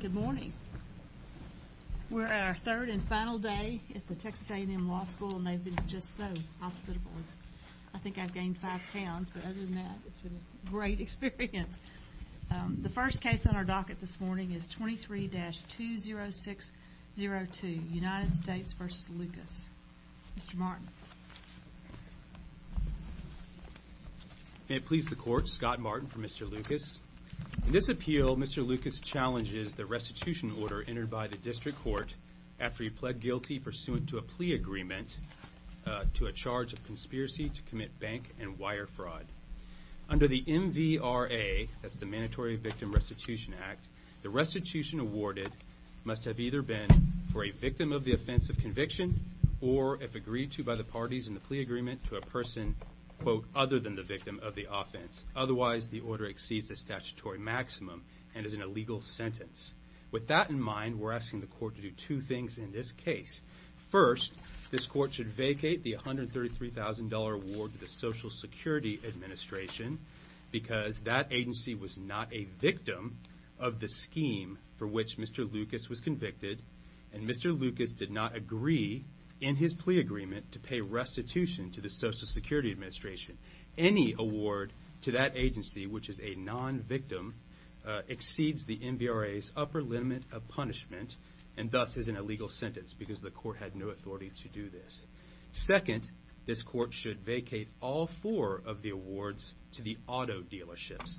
Good morning. We're at our third and final day at the Texas A&M Law School, and they've been just so hospitable. I think I've gained five pounds, but other than that, it's been a great experience. The first case on our docket this morning is 23-20602, United States v. Lucas. Mr. Martin. May it please the Court, Scott Martin for Mr. Lucas. In this appeal, Mr. Lucas challenges the restitution order entered by the District Court after he pled guilty pursuant to a plea agreement to a charge of conspiracy to commit bank and wire fraud. Under the MVRA, that's the Mandatory Victim Restitution Act, the restitution awarded must have either been for a victim of the offense of conviction or, if agreed to by the parties in the plea agreement, to a person, quote, otherwise the order exceeds the statutory maximum and is an illegal sentence. With that in mind, we're asking the Court to do two things in this case. First, this Court should vacate the $133,000 award to the Social Security Administration because that agency was not a victim of the scheme for which Mr. Lucas was convicted, and Mr. Lucas did not agree in his plea agreement to pay restitution to the Social Security Administration. Any award to that agency, which is a non-victim, exceeds the MVRA's upper limit of punishment and thus is an illegal sentence because the Court had no authority to do this. Second, this Court should vacate all four of the awards to the auto dealerships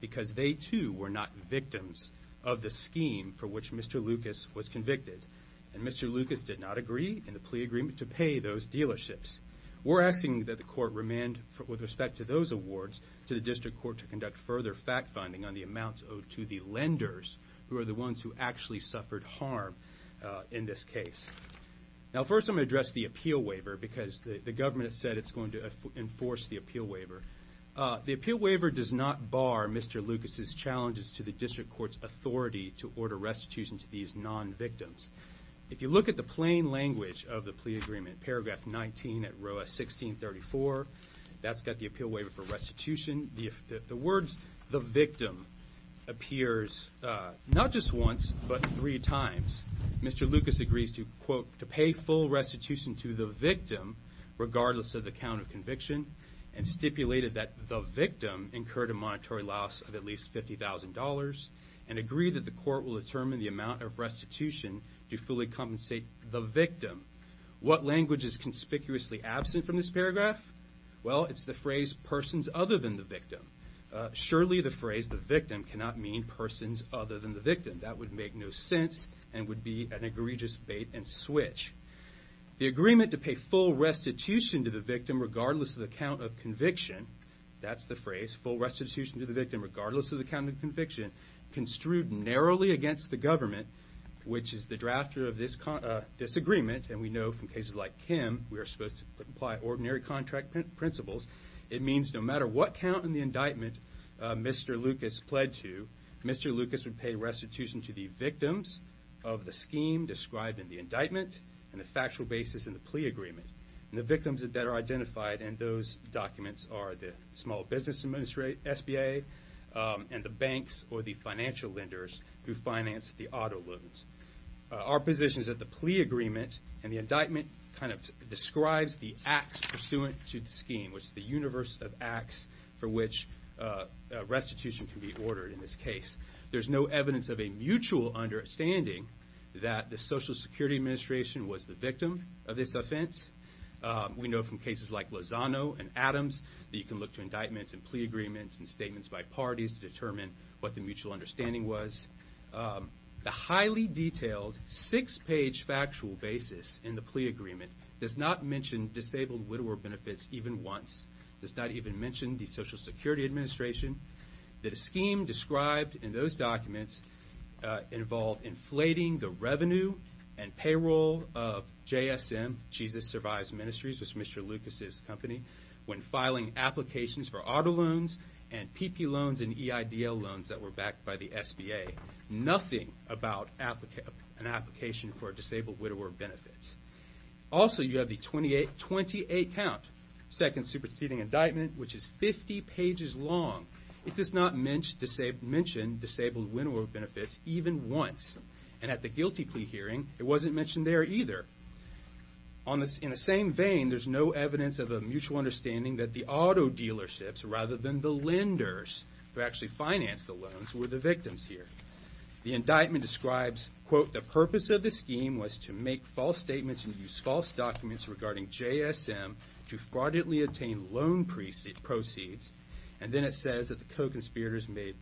because they too were not victims of the scheme for which Mr. Lucas was convicted, and Mr. Lucas did not agree in the plea agreement to pay those dealerships. We're asking that the Court remand, with respect to those awards, to the District Court to conduct further fact-finding on the amounts owed to the lenders, who are the ones who actually suffered harm in this case. Now, first I'm going to address the appeal waiver because the government has said it's going to enforce the appeal waiver. The appeal waiver does not bar Mr. Lucas' challenges to the District Court's authority to order restitution to these non-victims. If you look at the plain language of the plea agreement, paragraph 19 at row 1634, that's got the appeal waiver for restitution. The words, the victim, appears not just once but three times. Mr. Lucas agrees to, quote, to pay full restitution to the victim, regardless of the count of conviction, and stipulated that the victim incurred a monetary loss of at least $50,000 and agreed that the Court will determine the amount of restitution to fully compensate the victim. What language is conspicuously absent from this paragraph? Well, it's the phrase, persons other than the victim. Surely the phrase, the victim, cannot mean persons other than the victim. That would make no sense and would be an egregious bait-and-switch. The agreement to pay full restitution to the victim, regardless of the count of conviction, that's the phrase, full restitution to the victim, regardless of the count of conviction, construed narrowly against the government, which is the drafter of this disagreement, and we know from cases like Kim we are supposed to apply ordinary contract principles. It means no matter what count in the indictment Mr. Lucas pled to, Mr. Lucas would pay restitution to the victims of the scheme described in the indictment and the factual basis in the plea agreement. And the victims that are identified in those documents are the small business SBA and the banks or the financial lenders who finance the auto loans. Our position is that the plea agreement and the indictment kind of describes the acts pursuant to the scheme, which is the universe of acts for which restitution can be ordered in this case. There's no evidence of a mutual understanding that the Social Security Administration was the victim of this offense. We know from cases like Lozano and Adams that you can look to indictments and plea agreements and statements by parties to determine what the mutual understanding was. The highly detailed six-page factual basis in the plea agreement does not mention disabled widower benefits even once. It does not even mention the Social Security Administration. The scheme described in those documents involved inflating the revenue and payroll of JSM, Jesus Survives Ministries, which is Mr. Lucas' company, when filing applications for auto loans and PP loans and EIDL loans that were backed by the SBA. Nothing about an application for disabled widower benefits. Also, you have the 28-count second superseding indictment, which is 50 pages long. It does not mention disabled widower benefits even once. And at the guilty plea hearing, it wasn't mentioned there either. In the same vein, there's no evidence of a mutual understanding that the auto dealerships, rather than the lenders who actually financed the loans, were the victims here. The indictment describes, quote, the purpose of the scheme was to make false statements and use false documents regarding JSM to fraudulently obtain loan proceeds. And then it says that the co-conspirators made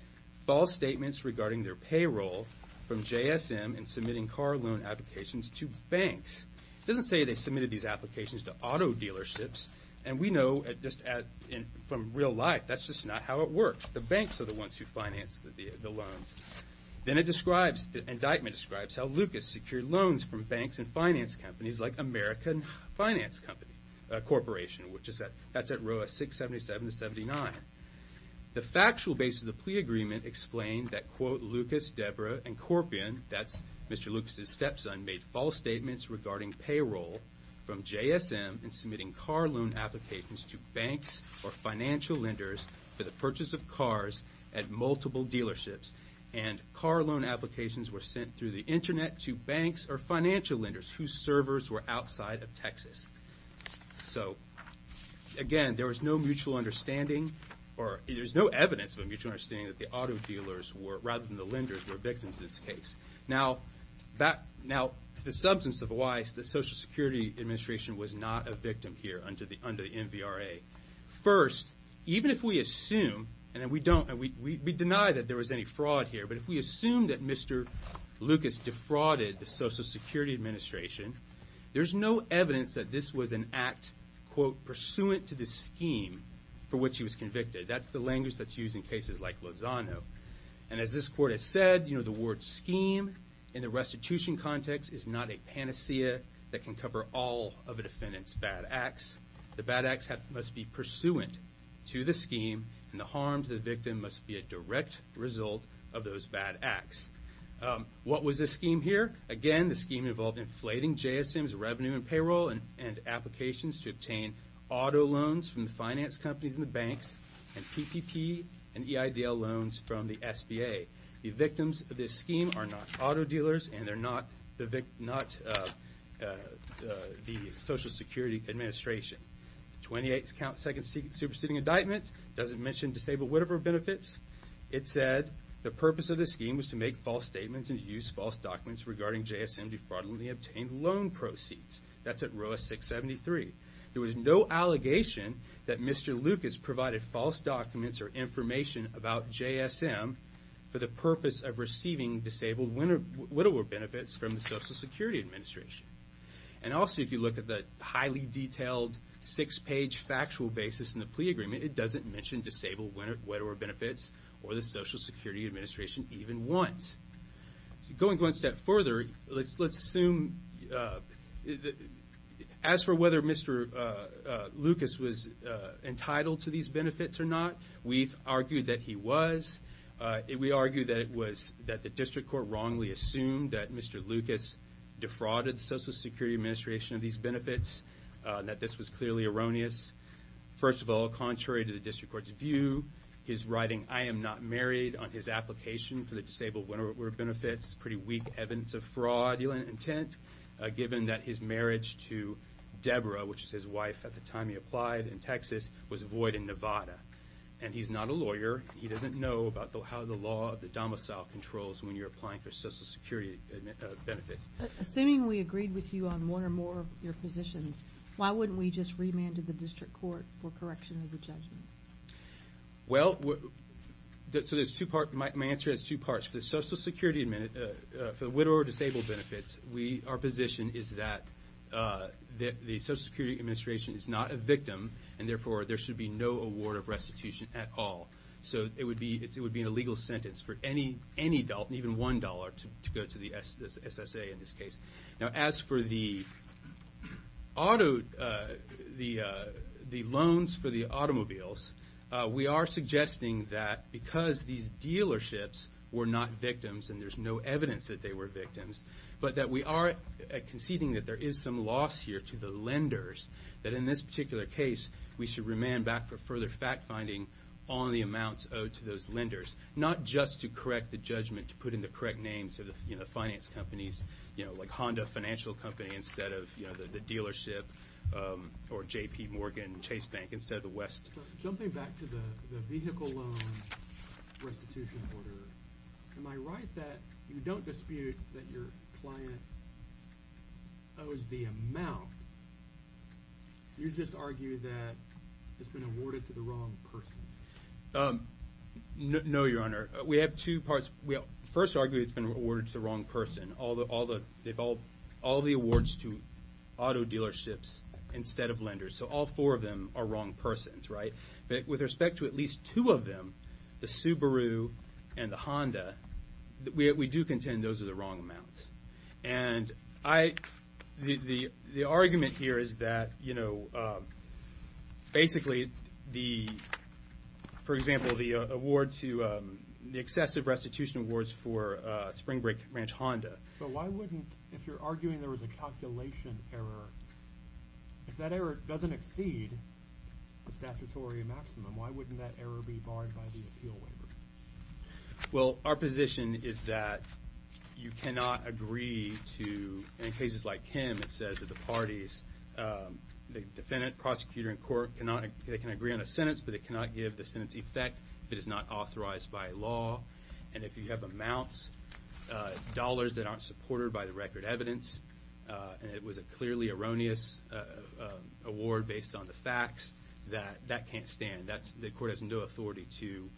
false statements regarding their payroll from JSM in submitting car loan applications to banks. It doesn't say they submitted these applications to auto dealerships. And we know just from real life, that's just not how it works. The banks are the ones who financed the loans. Then it describes, the indictment describes how Lucas secured loans from banks and finance companies like American Finance Corporation, which is at row 677-79. The factual basis of the plea agreement explained that, quote, Lucas, Deborah, and Corpion, that's Mr. Lucas' stepson, made false statements regarding payroll from JSM in submitting car loan applications to banks or financial lenders for the purchase of cars at multiple dealerships. And car loan applications were sent through the Internet to banks or financial lenders whose servers were outside of Texas. So, again, there was no mutual understanding, or there's no evidence of a mutual understanding that the auto dealers were, rather than the lenders, were victims in this case. Now, the substance of why the Social Security Administration was not a victim here under the MVRA. First, even if we assume, and we deny that there was any fraud here, but if we assume that Mr. Lucas defrauded the Social Security Administration, there's no evidence that this was an act, quote, pursuant to the scheme for which he was convicted. That's the language that's used in cases like Lozano. And as this court has said, you know, the word scheme in the restitution context is not a panacea that can cover all of a defendant's bad acts. The bad acts must be pursuant to the scheme, and the harm to the victim must be a direct result of those bad acts. What was the scheme here? Again, the scheme involved inflating JSM's revenue and payroll and applications to obtain auto loans from the finance companies and the banks, and PPP and EIDL loans from the SBA. The victims of this scheme are not auto dealers, and they're not the Social Security Administration. Twenty-eighth count, second superseding indictment, doesn't mention disabled whatever benefits. It said the purpose of the scheme was to make false statements and to use false documents regarding JSM defrauding the obtained loan proceeds. That's at row 673. There was no allegation that Mr. Lucas provided false documents or information about JSM for the purpose of receiving disabled whatever benefits from the Social Security Administration. And also, if you look at the highly detailed six-page factual basis in the plea agreement, it doesn't mention disabled whatever benefits or the Social Security Administration even once. Going one step further, let's assume as for whether Mr. Lucas was entitled to these benefits or not, we've argued that he was. We argue that the district court wrongly assumed that Mr. Lucas defrauded the Social Security Administration of these benefits, that this was clearly erroneous. First of all, contrary to the district court's view, his writing, I am not married on his application for the disabled whatever benefits, pretty weak evidence of fraudulent intent, given that his marriage to Deborah, which is his wife at the time he applied in Texas, was void in Nevada. And he's not a lawyer. He doesn't know about how the law of the domicile controls when you're applying for Social Security benefits. Assuming we agreed with you on one or more of your positions, why wouldn't we just remand to the district court for correction of the judgment? Well, so there's two parts. My answer has two parts. For the Social Security, for the with or disabled benefits, our position is that the Social Security Administration is not a victim, and therefore there should be no award of restitution at all. So it would be an illegal sentence for any adult, even $1, to go to the SSA in this case. Now, as for the auto, the loans for the automobiles, we are suggesting that because these dealerships were not victims and there's no evidence that they were victims, but that we are conceding that there is some loss here to the lenders, that in this particular case we should remand back for further fact-finding on the amounts owed to those lenders, not just to correct the judgment, to put in the correct names of the finance companies, like Honda Financial Company instead of the dealership, or J.P. Morgan Chase Bank instead of the West. Jumping back to the vehicle loan restitution order, am I right that you don't dispute that your client owes the amount, you just argue that it's been awarded to the wrong person? No, Your Honor. We have two parts. We first argue it's been awarded to the wrong person. All the awards to auto dealerships instead of lenders. So all four of them are wrong persons, right? With respect to at least two of them, the Subaru and the Honda, we do contend those are the wrong amounts. And the argument here is that, you know, basically, for example, the award to the excessive restitution awards for Spring Break Ranch Honda. But why wouldn't, if you're arguing there was a calculation error, if that error doesn't exceed the statutory maximum, why wouldn't that error be barred by the appeal waiver? Well, our position is that you cannot agree to, in cases like Kim, it says that the parties, the defendant, prosecutor, and court cannot, they can agree on a sentence, but they cannot give the sentence effect if it is not authorized by law. And if you have amounts, dollars that aren't supported by the record evidence, and it was a clearly erroneous award based on the facts, that can't stand. The court has no authority to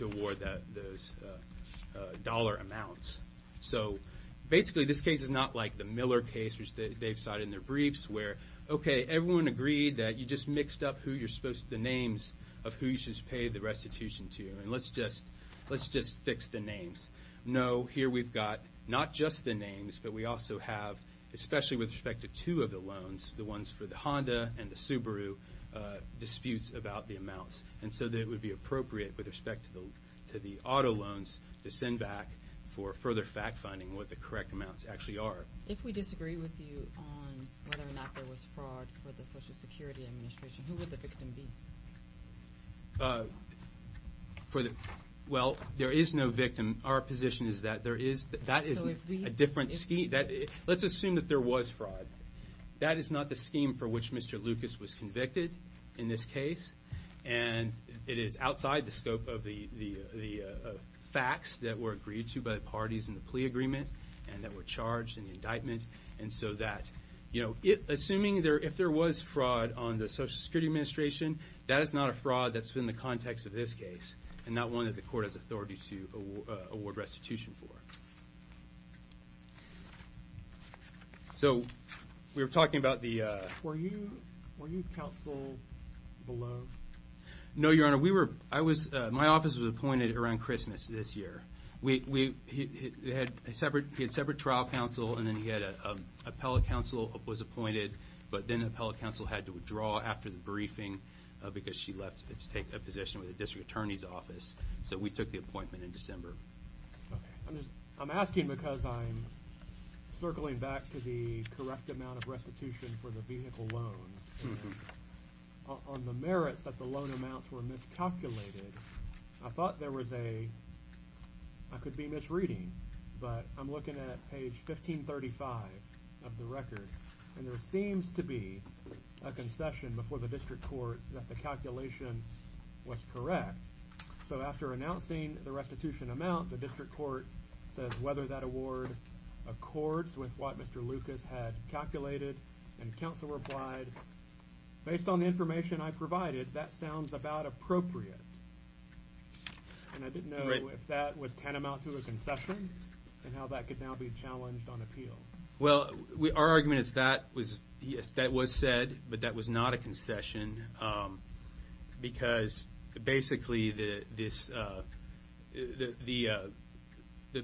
award those dollar amounts. So basically, this case is not like the Miller case, which they've cited in their briefs, where, okay, everyone agreed that you just mixed up the names of who you should pay the restitution to, and let's just fix the names. No, here we've got not just the names, but we also have, especially with respect to two of the loans, the ones for the Honda and the Subaru, disputes about the amounts. And so it would be appropriate, with respect to the auto loans, to send back for further fact-finding what the correct amounts actually are. If we disagree with you on whether or not there was fraud for the Social Security Administration, who would the victim be? Well, there is no victim. Our position is that there is, that is a different scheme. Let's assume that there was fraud. That is not the scheme for which Mr. Lucas was convicted in this case, and it is outside the scope of the facts that were agreed to by the parties in the plea agreement and that were charged in the indictment. And so that, you know, assuming if there was fraud on the Social Security Administration, that is not a fraud that's been in the context of this case and not one that the court has authority to award restitution for. So we were talking about the... Were you counsel below? No, Your Honor. We were, I was, my office was appointed around Christmas this year. We, we, he had a separate, he had separate trial counsel, and then he had an appellate counsel who was appointed, but then the appellate counsel had to withdraw after the briefing because she left to take a position with the District Attorney's Office. So we took the appointment in December. Okay. I'm asking because I'm circling back to the correct amount of restitution for the vehicle loans. On the merits that the loan amounts were miscalculated, I thought there was a, I could be misreading, but I'm looking at page 1535 of the record, and there seems to be a concession before the district court that the calculation was correct. So after announcing the restitution amount, the district court says whether that award accords with what Mr. Lucas had calculated, and counsel replied, based on the information I provided, that sounds about appropriate. And I didn't know if that was tantamount to a concession and how that could now be challenged on appeal. Well, our argument is that was, yes, that was said, but that was not a concession because basically the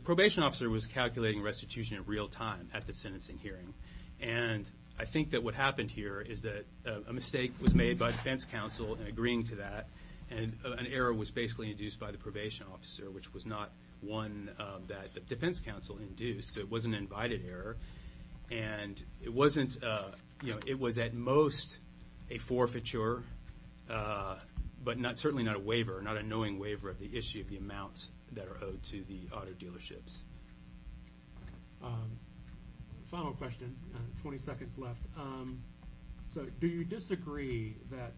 probation officer was calculating restitution in real time at the sentencing hearing. And I think that what happened here is that a mistake was made by defense counsel in agreeing to that, and an error was basically induced by the probation officer, which was not one that the defense counsel induced. It was an invited error. And it wasn't, you know, it was at most a forfeiture, but certainly not a waiver, not a knowing waiver of the issue of the amounts that are owed to the auto dealerships. Final question, 20 seconds left. So do you disagree that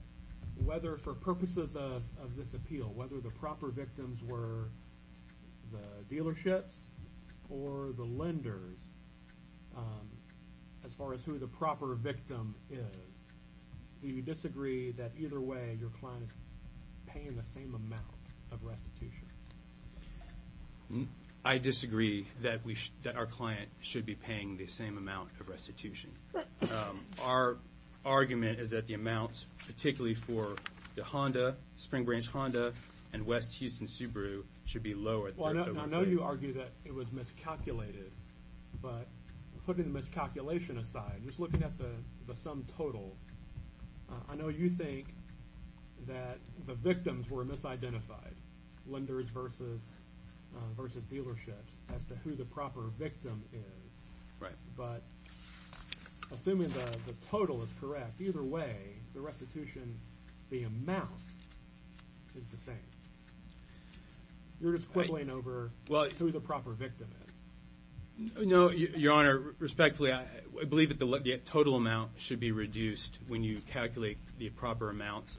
whether for purposes of this appeal, whether the proper victims were the dealerships or the lenders, as far as who the proper victim is, do you disagree that either way your client is paying the same amount of restitution? I disagree that our client should be paying the same amount of restitution. Our argument is that the amounts, particularly for the Honda, Spring Branch Honda, and West Houston Subaru should be lower. I know you argue that it was miscalculated, but putting the miscalculation aside, just looking at the sum total, I know you think that the victims were misidentified, lenders versus dealerships, as to who the proper victim is. Right. But assuming the total is correct, either way, the restitution, the amount, is the same. You're just quibbling over who the proper victim is. No, Your Honor, respectfully, I believe that the total amount should be reduced when you calculate the proper amounts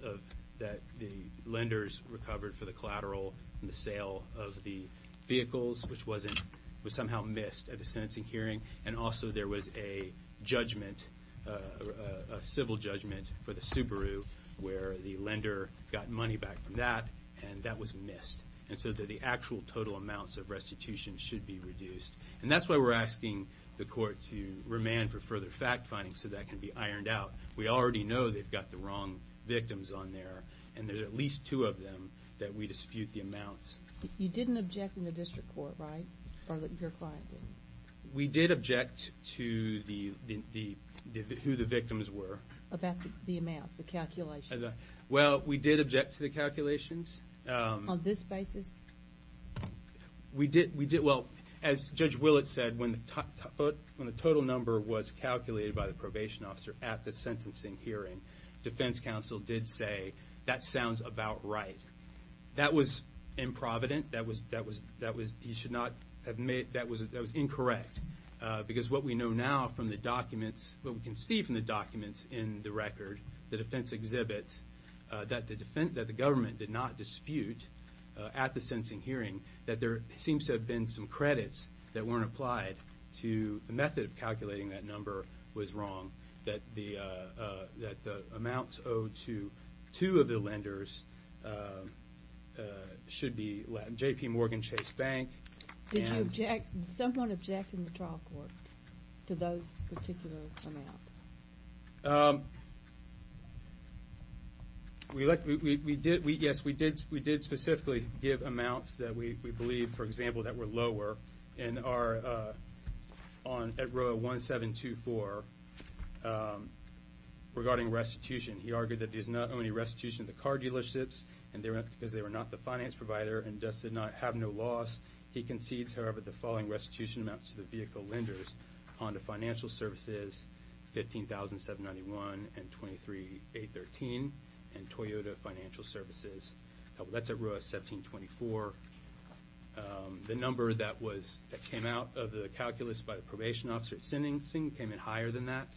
that the lenders recovered for the collateral and the sale of the vehicles, which was somehow missed at the sentencing hearing, and also there was a judgment, a civil judgment, for the Subaru where the lender got money back from that, and that was missed. And so the actual total amounts of restitution should be reduced. And that's why we're asking the court to remand for further fact-finding so that can be ironed out. We already know they've got the wrong victims on there, and there's at least two of them that we dispute the amounts. You didn't object in the district court, right, or your client didn't? We did object to who the victims were. About the amounts, the calculations? Well, we did object to the calculations. On this basis? Well, as Judge Willett said, when the total number was calculated by the probation officer at the sentencing hearing, defense counsel did say, that sounds about right. That was improvident. That was incorrect, because what we know now from the documents, what we can see from the documents in the record, the defense exhibits, that the government did not dispute at the sentencing hearing, that there seems to have been some credits that weren't applied to the method of calculating that number was wrong, that the amounts owed to two of the lenders should be J.P. Morgan Chase Bank. Did someone object in the trial court to those particular amounts? Yes, we did specifically give amounts that we believe, for example, that were lower, and are at row 1724, regarding restitution. He argued that it is not only restitution of the car dealerships, because they were not the finance provider and thus did not have no loss. He concedes, however, the following restitution amounts to the vehicle lenders, Honda Financial Services, $15,791, and $23,813, and Toyota Financial Services. That's at row 1724. The number that came out of the calculus by the probation officer at sentencing came in higher than that.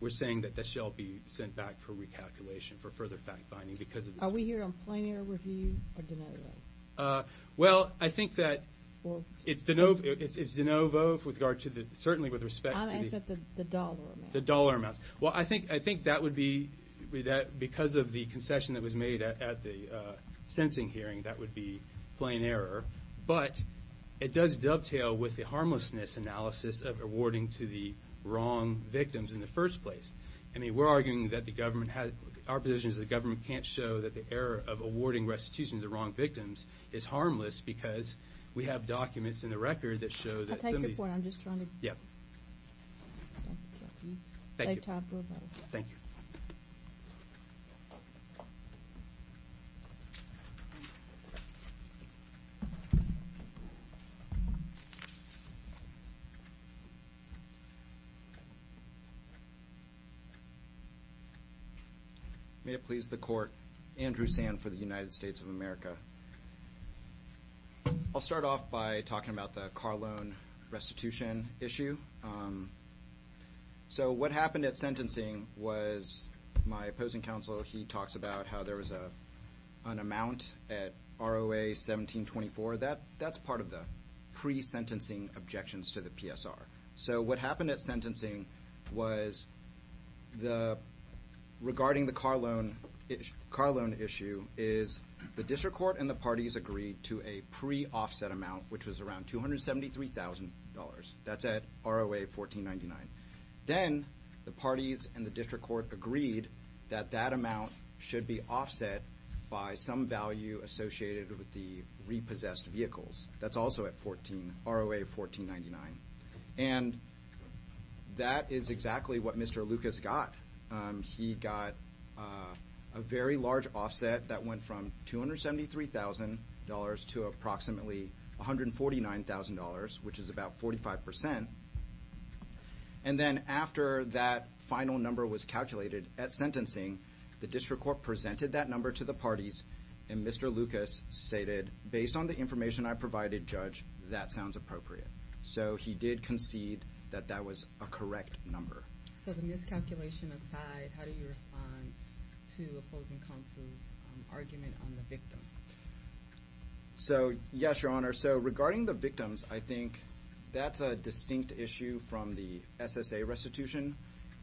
We're saying that this shall be sent back for recalculation for further fact-finding because of this. Are we here on plenary review or de novo? Well, I think that it's de novo with regard to the – certainly with respect to the – I'm asking about the dollar amounts. The dollar amounts. Well, I think that would be – because of the concession that was made at the sentencing hearing, that would be plain error. But it does dovetail with the harmlessness analysis of awarding to the wrong victims in the first place. I mean, we're arguing that the government – our position is the government can't show that the error of awarding restitution to the wrong victims is harmless because we have documents in the record that show that some of these – I'll take your point. I'm just trying to – Yeah. Thank you. May it please the Court. Andrew Sand for the United States of America. I'll start off by talking about the car loan restitution issue. So what happened at sentencing was my opposing counsel, he talks about how there was an amount at ROA 1724. That's part of the pre-sentencing objections to the PSR. So what happened at sentencing was regarding the car loan issue is the district court and the parties agreed to a pre-offset amount, which was around $273,000. That's at ROA 1499. Then the parties and the district court agreed that that amount should be offset by some value associated with the repossessed vehicles. That's also at 14 – ROA 1499. And that is exactly what Mr. Lucas got. He got a very large offset that went from $273,000 to approximately $149,000, which is about 45%. And then after that final number was calculated at sentencing, the district court presented that number to the parties and Mr. Lucas stated, based on the information I provided, Judge, that sounds appropriate. So he did concede that that was a correct number. So the miscalculation aside, how do you respond to opposing counsel's argument on the victim? So, yes, Your Honor. So regarding the victims, I think that's a distinct issue from the SSA restitution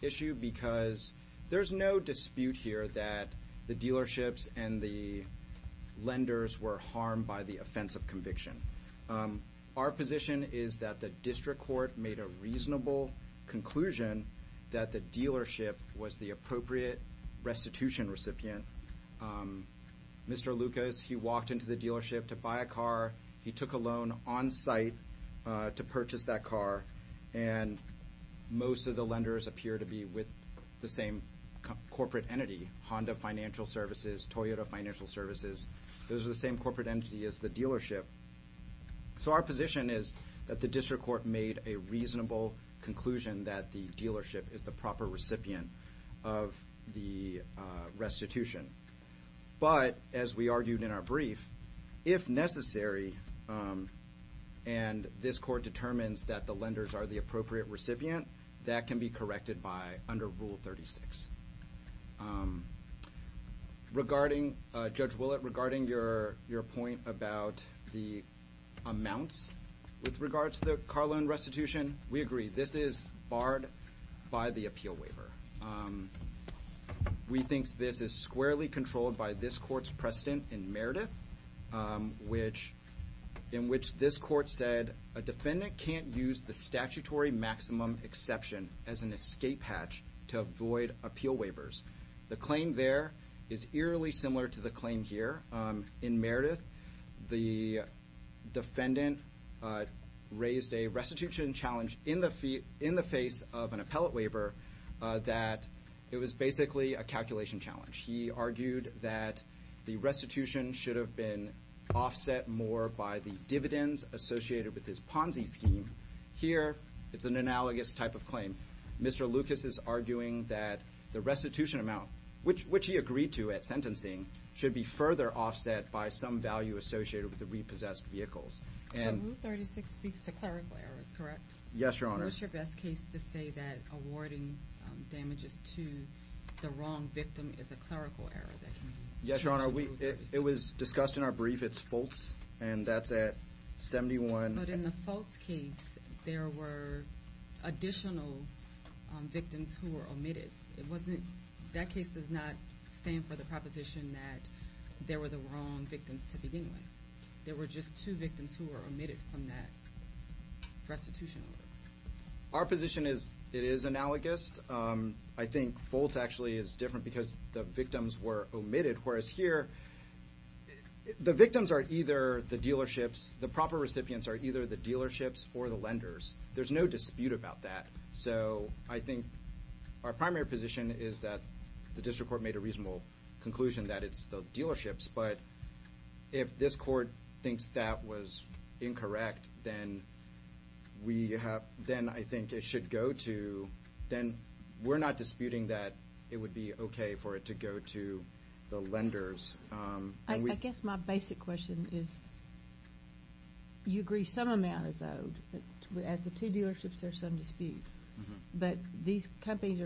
issue because there's no dispute here that the dealerships and the lenders were harmed by the offense of conviction. Our position is that the district court made a reasonable conclusion that the dealership was the appropriate restitution recipient. Mr. Lucas, he walked into the dealership to buy a car. He took a loan on site to purchase that car, and most of the lenders appear to be with the same corporate entity, Honda Financial Services, Toyota Financial Services. Those are the same corporate entity as the dealership. So our position is that the district court made a reasonable conclusion that the dealership is the proper recipient of the restitution. But, as we argued in our brief, if necessary, and this court determines that the lenders are the appropriate recipient, that can be corrected by under Rule 36. Judge Willett, regarding your point about the amounts with regard to the car loan restitution, we agree. This is barred by the appeal waiver. We think this is squarely controlled by this court's precedent in Meredith, in which this court said a defendant can't use the statutory maximum exception as an escape hatch to avoid appeal waivers. The claim there is eerily similar to the claim here. In Meredith, the defendant raised a restitution challenge in the face of an appellate waiver that it was basically a calculation challenge. He argued that the restitution should have been offset more by the dividends associated with his Ponzi scheme. Here, it's an analogous type of claim. Mr. Lucas is arguing that the restitution amount, which he agreed to at sentencing, should be further offset by some value associated with the repossessed vehicles. Rule 36 speaks to clerical errors, correct? Yes, Your Honor. What's your best case to say that awarding damages to the wrong victim is a clerical error? Yes, Your Honor, it was discussed in our brief. It's Fultz, and that's at 71. But in the Fultz case, there were additional victims who were omitted. That case does not stand for the proposition that there were the wrong victims to begin with. There were just two victims who were omitted from that restitution. Our position is it is analogous. I think Fultz actually is different because the victims were omitted, whereas here, the victims are either the dealerships, the proper recipients are either the dealerships or the lenders. There's no dispute about that. So I think our primary position is that the district court made a reasonable conclusion that it's the dealerships. But if this court thinks that was incorrect, then I think it should go to, then we're not disputing that it would be okay for it to go to the lenders. I guess my basic question is you agree some amount is owed. As the two dealerships, there's some dispute. But these companies,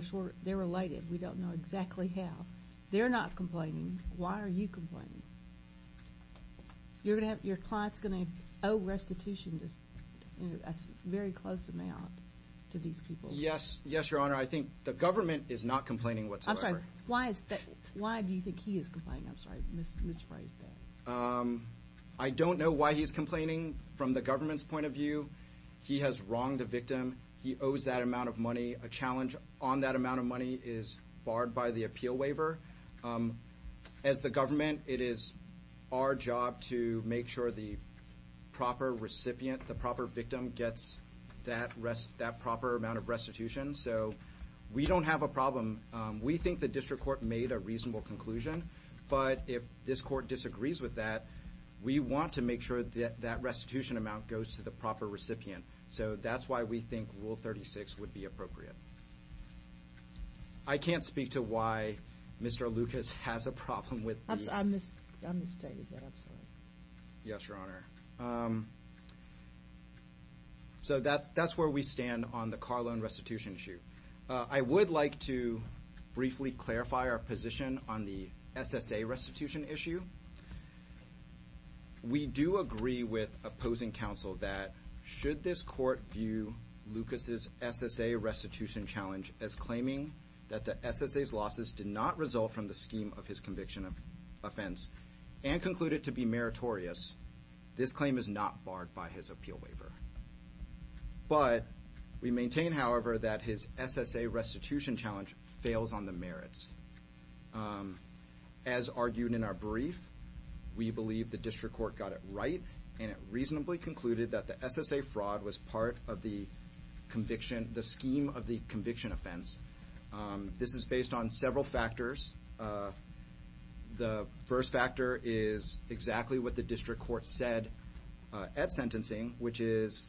they're related. We don't know exactly how. They're not complaining. Why are you complaining? Your client's going to owe restitution a very close amount to these people. Yes, Your Honor. I think the government is not complaining whatsoever. Why do you think he is complaining? I'm sorry. I misphrased that. I don't know why he's complaining from the government's point of view. He has wronged a victim. He owes that amount of money. A challenge on that amount of money is barred by the appeal waiver. As the government, it is our job to make sure the proper recipient, the proper victim, gets that proper amount of restitution. So we don't have a problem. We think the district court made a reasonable conclusion. But if this court disagrees with that, we want to make sure that that restitution amount goes to the proper recipient. So that's why we think Rule 36 would be appropriate. I can't speak to why Mr. Lucas has a problem with the... I misstated that. Yes, Your Honor. So that's where we stand on the car loan restitution issue. I would like to briefly clarify our position on the SSA restitution issue. We do agree with opposing counsel that should this court view Lucas's SSA restitution challenge as claiming that the SSA's losses did not result from the scheme of his conviction of offense and concluded to be meritorious, this claim is not barred by his appeal waiver. But we maintain, however, that his SSA restitution challenge fails on the merits. As argued in our brief, we believe the district court got it right and it reasonably concluded that the SSA fraud was part of the scheme of the conviction offense. This is based on several factors. The first factor is exactly what the district court said at sentencing, which is,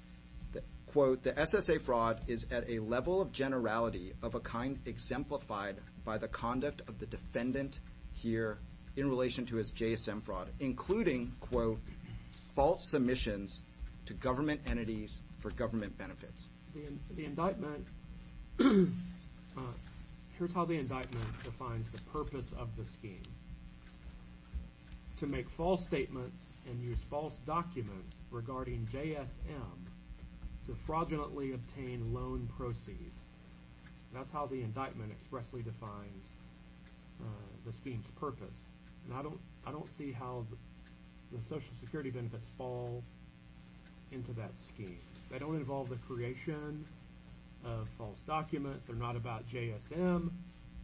quote, the SSA fraud is at a level of generality of a kind exemplified by the conduct of the defendant here in relation to his JSM fraud, including, quote, false submissions to government entities for government benefits. The indictment... Here's how the indictment defines the purpose of the scheme. To make false statements and use false documents regarding JSM to fraudulently obtain loan proceeds. That's how the indictment expressly defines the scheme's purpose. And I don't see how the Social Security benefits fall into that scheme. They don't involve the creation of false documents. They're not about JSM.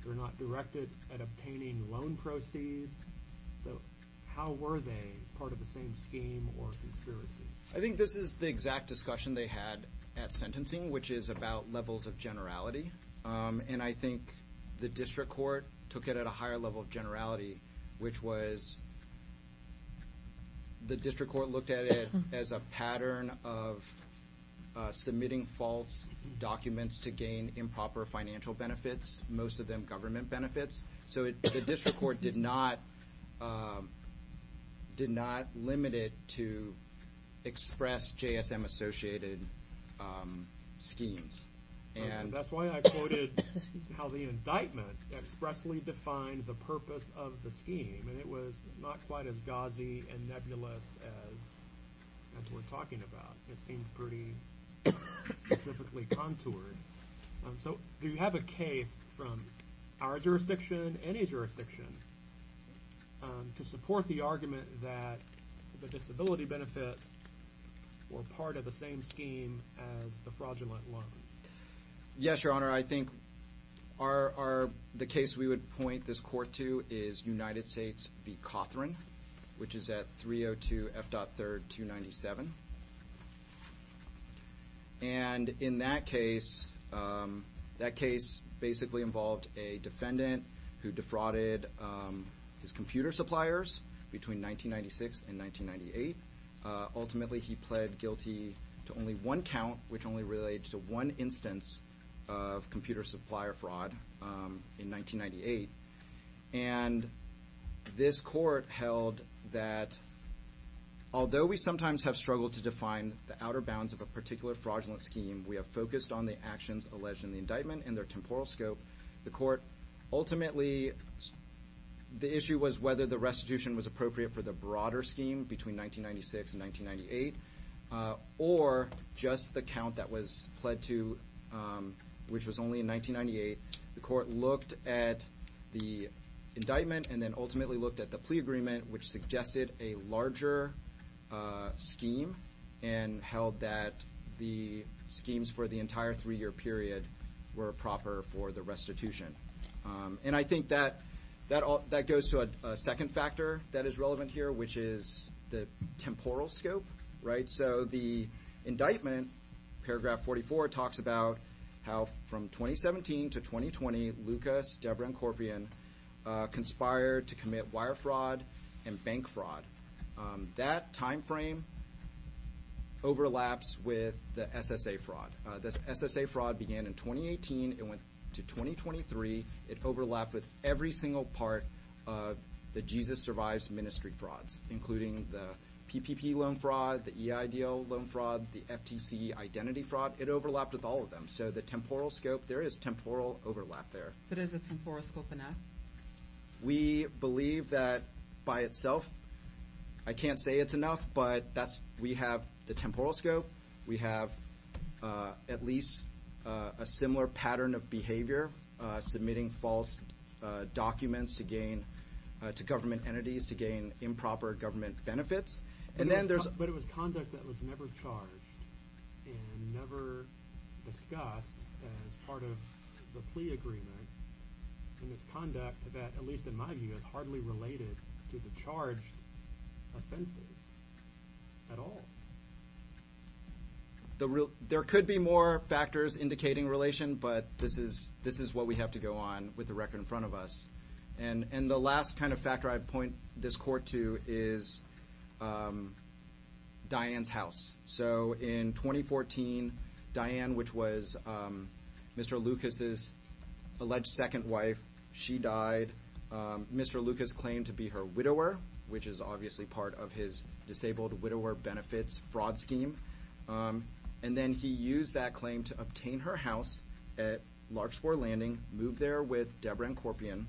They're not directed at obtaining loan proceeds. So how were they part of the same scheme or conspiracy? I think this is the exact discussion they had at sentencing, which is about levels of generality. And I think the district court took it at a higher level of generality, which was the district court looked at it as a pattern of submitting false documents to gain improper financial benefits, most of them government benefits. So the district court did not limit it to express JSM-associated schemes. That's why I quoted how the indictment expressly defined the purpose of the scheme, and it was not quite as gauzy and nebulous as we're talking about. It seemed pretty specifically contoured. So do you have a case from our jurisdiction, any jurisdiction, to support the argument that the disability benefits were part of the same scheme as the fraudulent loans? Yes, Your Honor. I think the case we would point this court to is United States v. Cawthorne, which is at 302 F.3 297. And in that case, that case basically involved a defendant who defrauded his computer suppliers between 1996 and 1998. Ultimately, he pled guilty to only one count, which only related to one instance of computer supplier fraud in 1998. And this court held that, although we sometimes have struggled to define the outer bounds of a particular fraudulent scheme, we have focused on the actions alleged in the indictment and their temporal scope. The court ultimately, the issue was whether the restitution was appropriate for the broader scheme between 1996 and 1998, or just the count that was pled to, which was only in 1998. The court looked at the indictment and then ultimately looked at the plea agreement, which suggested a larger scheme and held that the schemes for the entire three-year period were proper for the restitution. And I think that goes to a second factor that is relevant here, which is the temporal scope, right? So the indictment, paragraph 44, talks about how from 2017 to 2020, Lucas, Debra, and Corpian conspired to commit wire fraud and bank fraud. That time frame overlaps with the SSA fraud. The SSA fraud began in 2018. It went to 2023. It overlapped with every single part of the Jesus Survives ministry frauds, including the PPP loan fraud, the EIDL loan fraud, the FTC identity fraud. It overlapped with all of them. So the temporal scope, there is temporal overlap there. But is the temporal scope enough? We believe that by itself. I can't say it's enough, but we have the temporal scope. We have at least a similar pattern of behavior, submitting false documents to government entities to gain improper government benefits. But it was conduct that was never charged and never discussed as part of the plea agreement. And it's conduct that, at least in my view, is hardly related to the charged offenses at all. There could be more factors indicating relation, but this is what we have to go on with the record in front of us. And the last kind of factor I'd point this court to is Diane's house. So in 2014, Diane, which was Mr. Lucas's alleged second wife, she died. Mr. Lucas claimed to be her widower, which is obviously part of his disabled widower benefits fraud scheme. And then he used that claim to obtain her house at Larkspoor Landing, moved there with Deborah and Corpian,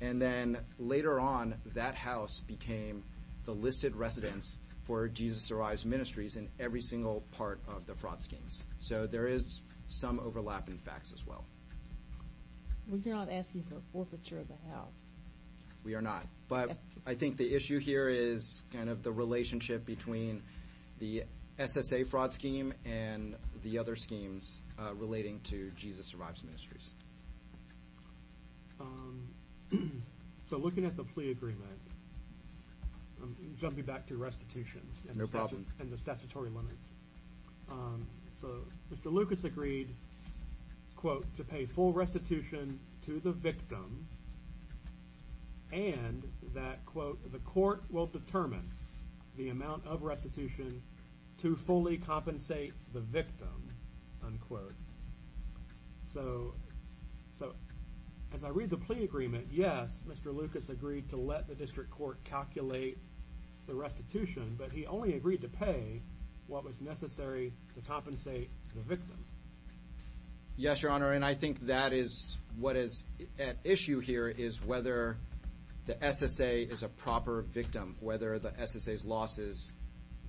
and then later on that house became the listed residence for Jesus Survives Ministries in every single part of the fraud schemes. So there is some overlap in facts as well. We're not asking for forfeiture of the house. We are not. But I think the issue here is kind of the relationship between the SSA fraud scheme and the other schemes relating to Jesus Survives Ministries. So looking at the plea agreement, jumping back to restitution and the statutory limits. So Mr. Lucas agreed, quote, to pay full restitution to the victim and that, quote, the court will determine the amount of restitution to fully compensate the victim, unquote. So as I read the plea agreement, yes, Mr. Lucas agreed to let the district court calculate the restitution, but he only agreed to pay what was necessary to compensate the victim. Yes, Your Honor, and I think that is what is at issue here is whether the SSA is a proper victim, whether the SSA's losses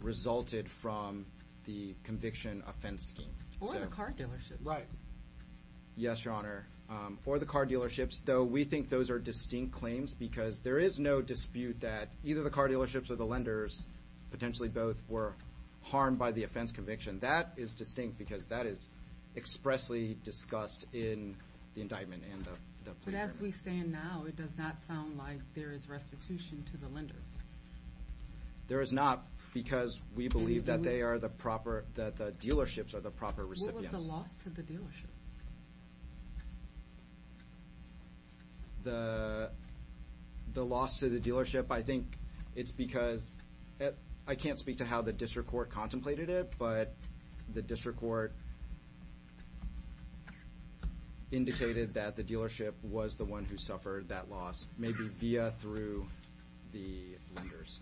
resulted from the conviction offense scheme. Or the car dealerships. Right. Yes, Your Honor. Or the car dealerships, though we think those are distinct claims because there is no dispute that either the car dealerships or the lenders, potentially both, were harmed by the offense conviction. That is distinct because that is expressly discussed in the indictment and the plea agreement. But as we stand now, it does not sound like there is restitution to the lenders. There is not because we believe that they are the proper, that the dealerships are the proper recipients. What was the loss to the dealership? The loss to the dealership, I think it's because, I can't speak to how the district court contemplated it, but the district court indicated that the dealership was the one who suffered that loss, maybe via through the lenders.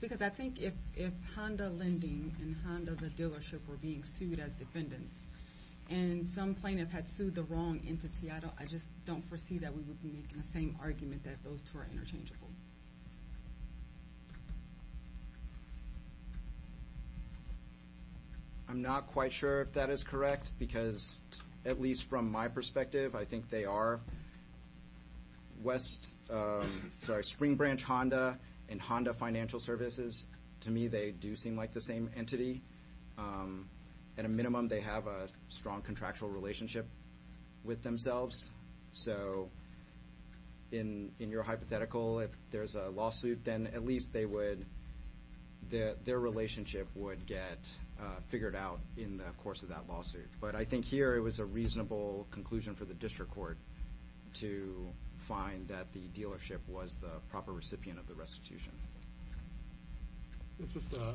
Because I think if Honda Lending and Honda the dealership were being sued as defendants, and some plaintiff had sued the wrong entity, I just don't foresee that we would be making the same argument that those two are interchangeable. I'm not quite sure if that is correct because, at least from my perspective, I think they are West, sorry, Spring Branch Honda and Honda Financial Services. To me, they do seem like the same entity. At a minimum, they have a strong contractual relationship with themselves. So in your hypothetical, if there is a lawsuit, then at least their relationship would get figured out in the course of that lawsuit. But I think here it was a reasonable conclusion for the district court to find that the dealership was the proper recipient of the restitution. It's just a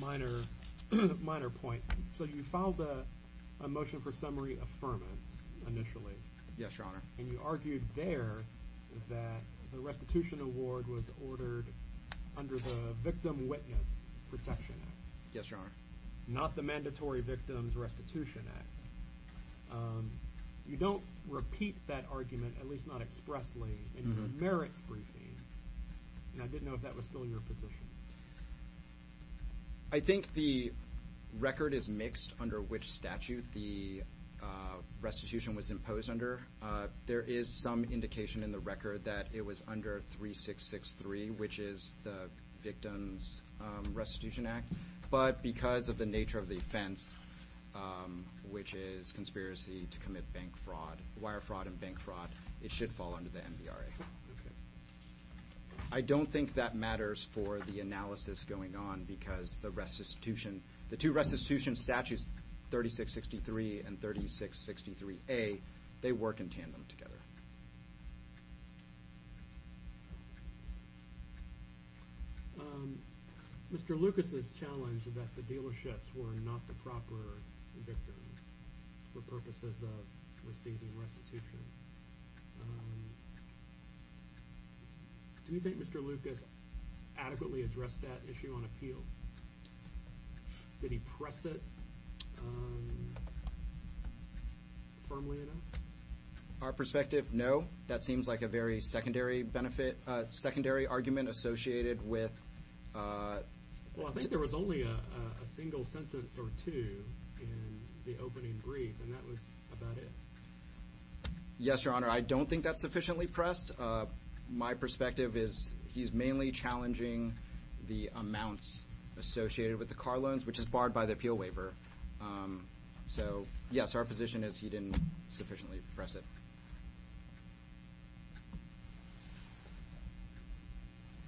minor point. So you filed a motion for summary affirmance initially. Yes, Your Honor. And you argued there that the restitution award was ordered under the Victim Witness Protection Act. Yes, Your Honor. Not the Mandatory Victims Restitution Act. You don't repeat that argument, at least not expressly, in your merits briefing. And I didn't know if that was still in your position. I think the record is mixed under which statute the restitution was imposed under. There is some indication in the record that it was under 3663, which is the Victims Restitution Act. But because of the nature of the offense, which is conspiracy to commit wire fraud and bank fraud, it should fall under the MVRA. I don't think that matters for the analysis going on because the restitution, the two restitution statutes, 3663 and 3663A, they work in tandem together. Mr. Lucas has challenged that the dealerships were not the proper victims for purposes of receiving restitution. Do you think Mr. Lucas adequately addressed that issue on appeal? Did he press it firmly enough? Our perspective, no. That seems like a very secondary benefit, secondary argument associated with— Well, I think there was only a single sentence or two in the opening brief, and that was about it. Yes, Your Honor. I don't think that's sufficiently pressed. My perspective is he's mainly challenging the amounts associated with the car loans, which is barred by the appeal waiver. So, yes, our position is he didn't sufficiently press it.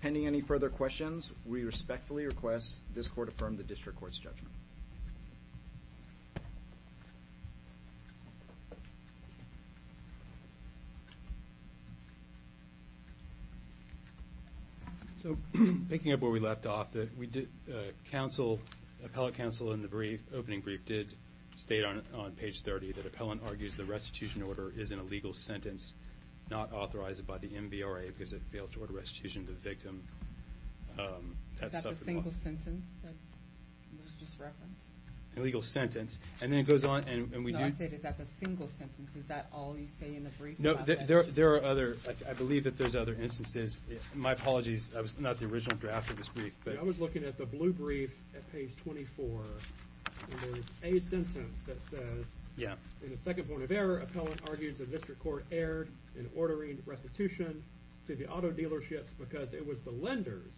Pending any further questions, we respectfully request this court affirm the district court's judgment. So picking up where we left off, the appellate counsel in the opening brief did state on page 30 that appellant argues the restitution order is in a legal sentence, not authorized by the MVRA because it failed to order restitution to the victim. Is that the single sentence that was just referenced? A legal sentence. And then it goes on, and we do— No, I said is that the single sentence. Is that all you say in the brief? No, there are other—I believe that there's other instances. My apologies. That was not the original draft of this brief, but— I was looking at the blue brief at page 24. There's a sentence that says, in a second point of error, appellant argues the district court erred in ordering restitution to the auto dealerships because it was the lenders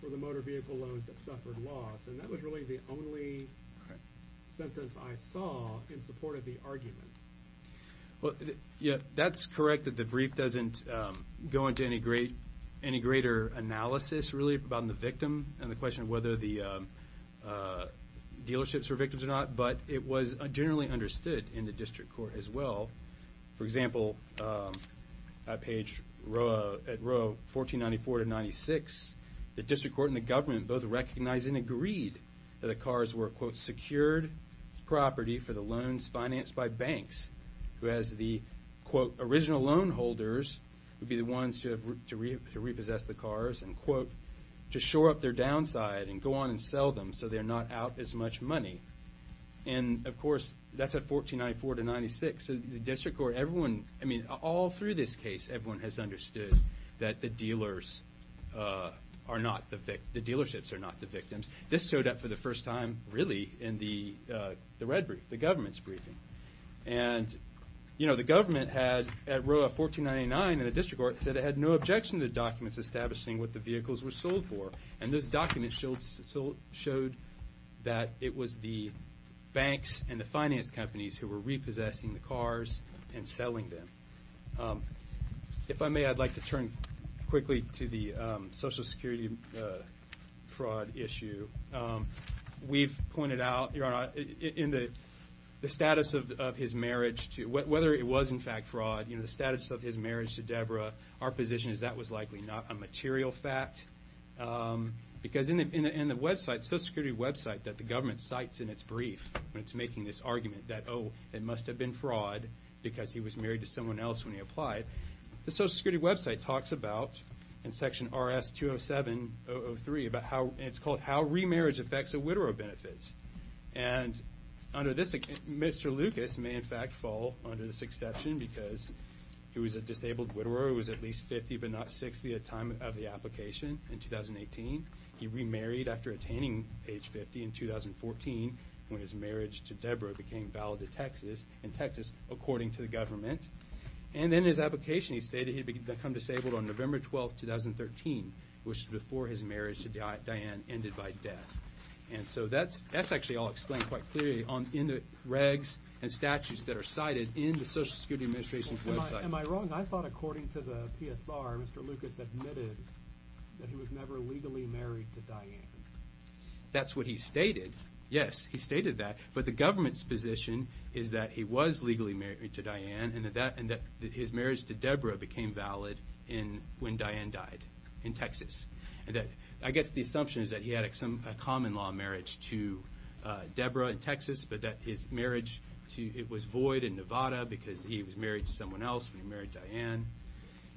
for the motor vehicle loans that suffered loss, and that was really the only sentence I saw in support of the argument. That's correct that the brief doesn't go into any greater analysis, really, about the victim and the question of whether the dealerships were victims or not, but it was generally understood in the district court as well. For example, at page—at row 1494 to 96, the district court and the government both recognized and agreed that the cars were, quote, secured property for the loans financed by banks, who as the, quote, original loan holders would be the ones to repossess the cars, and, quote, to shore up their downside and go on and sell them so they're not out as much money. And, of course, that's at 1494 to 96. The district court, everyone—I mean, all through this case, everyone has understood that the dealers are not the—the dealerships are not the victims. This showed up for the first time, really, in the red brief, the government's briefing. And, you know, the government had, at row 1499 in the district court, said it had no objection to documents establishing what the vehicles were sold for. And this document showed that it was the banks and the finance companies who were repossessing the cars and selling them. If I may, I'd like to turn quickly to the Social Security fraud issue. We've pointed out, Your Honor, in the status of his marriage to—whether it was, in fact, fraud, you know, the status of his marriage to Deborah, our position is that was likely not a material fact. Because in the website, Social Security website that the government cites in its brief when it's making this argument that, oh, it must have been fraud because he was married to someone else when he applied, the Social Security website talks about, in section RS-207-003, about how—it's called how remarriage affects the WIDRO benefits. And under this—Mr. Lucas may, in fact, fall under this exception because he was a disabled WIDRO. He was at least 50 but not 60 at the time of the application in 2018. He remarried after attaining age 50 in 2014 when his marriage to Deborah became valid in Texas, in Texas according to the government. And in his application, he stated he had become disabled on November 12, 2013, which was before his marriage to Diane ended by death. And so that's actually all explained quite clearly in the regs and statutes that are cited in the Social Security Administration's website. Am I wrong? I thought according to the PSR, Mr. Lucas admitted that he was never legally married to Diane. That's what he stated. Yes, he stated that. But the government's position is that he was legally married to Diane and that his marriage to Deborah became valid when Diane died in Texas. I guess the assumption is that he had a common-law marriage to Deborah in Texas but that his marriage was void in Nevada because he was married to someone else when he married Diane.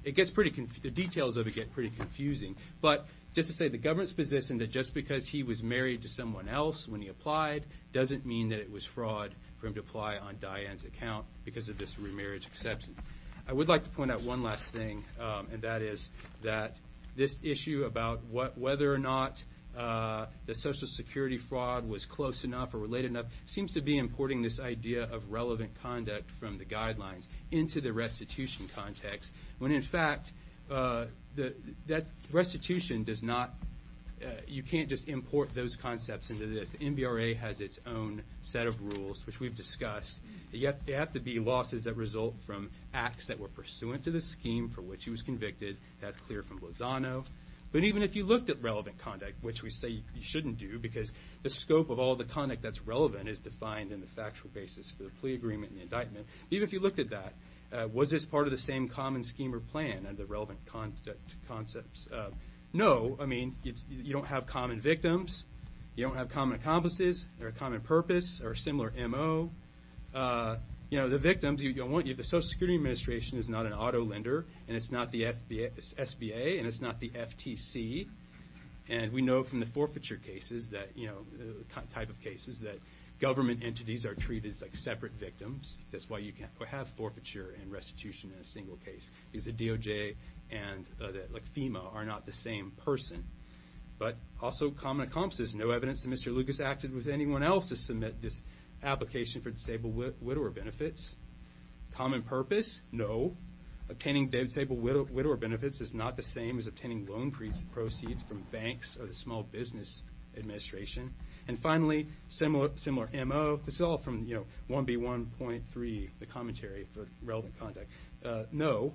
The details of it get pretty confusing. But just to say the government's position that just because he was married to someone else when he applied doesn't mean that it was fraud for him to apply on Diane's account because of this remarriage exception. I would like to point out one last thing, and that is that this issue about whether or not the Social Security fraud was close enough or related enough seems to be importing this idea of relevant conduct from the guidelines into the restitution context, when in fact that restitution does not you can't just import those concepts into this. The NBRA has its own set of rules, which we've discussed. They have to be losses that result from acts that were pursuant to the scheme for which he was convicted. That's clear from Lozano. But even if you looked at relevant conduct, which we say you shouldn't do because the scope of all the conduct that's relevant is defined in the factual basis for the plea agreement and the indictment. Even if you looked at that, was this part of the same common scheme or plan and the relevant concepts? No. I mean, you don't have common victims. You don't have common accomplices. They're a common purpose or a similar MO. You know, the victims you don't want, the Social Security Administration is not an auto lender, and it's not the SBA, and it's not the FTC. And we know from the forfeiture cases that, you know, the type of cases that government entities are treated as like separate victims. That's why you can't have forfeiture and restitution in a single case, because the DOJ and FEMA are not the same person. But also common accomplices. No evidence that Mr. Lucas acted with anyone else to submit this application for disabled widower benefits. Common purpose, no. Obtaining disabled widower benefits is not the same as obtaining loan proceeds from banks or the Small Business Administration. And finally, similar MO. This is all from, you know, 1B1.3, the commentary for relevant conduct. No,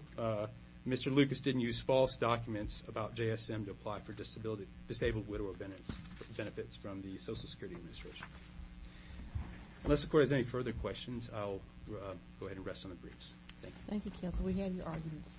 Mr. Lucas didn't use false documents about JSM to apply for disabled widower benefits from the Social Security Administration. Unless the Court has any further questions, I'll go ahead and rest on the briefs. Thank you. Thank you, Counsel. We had your arguments.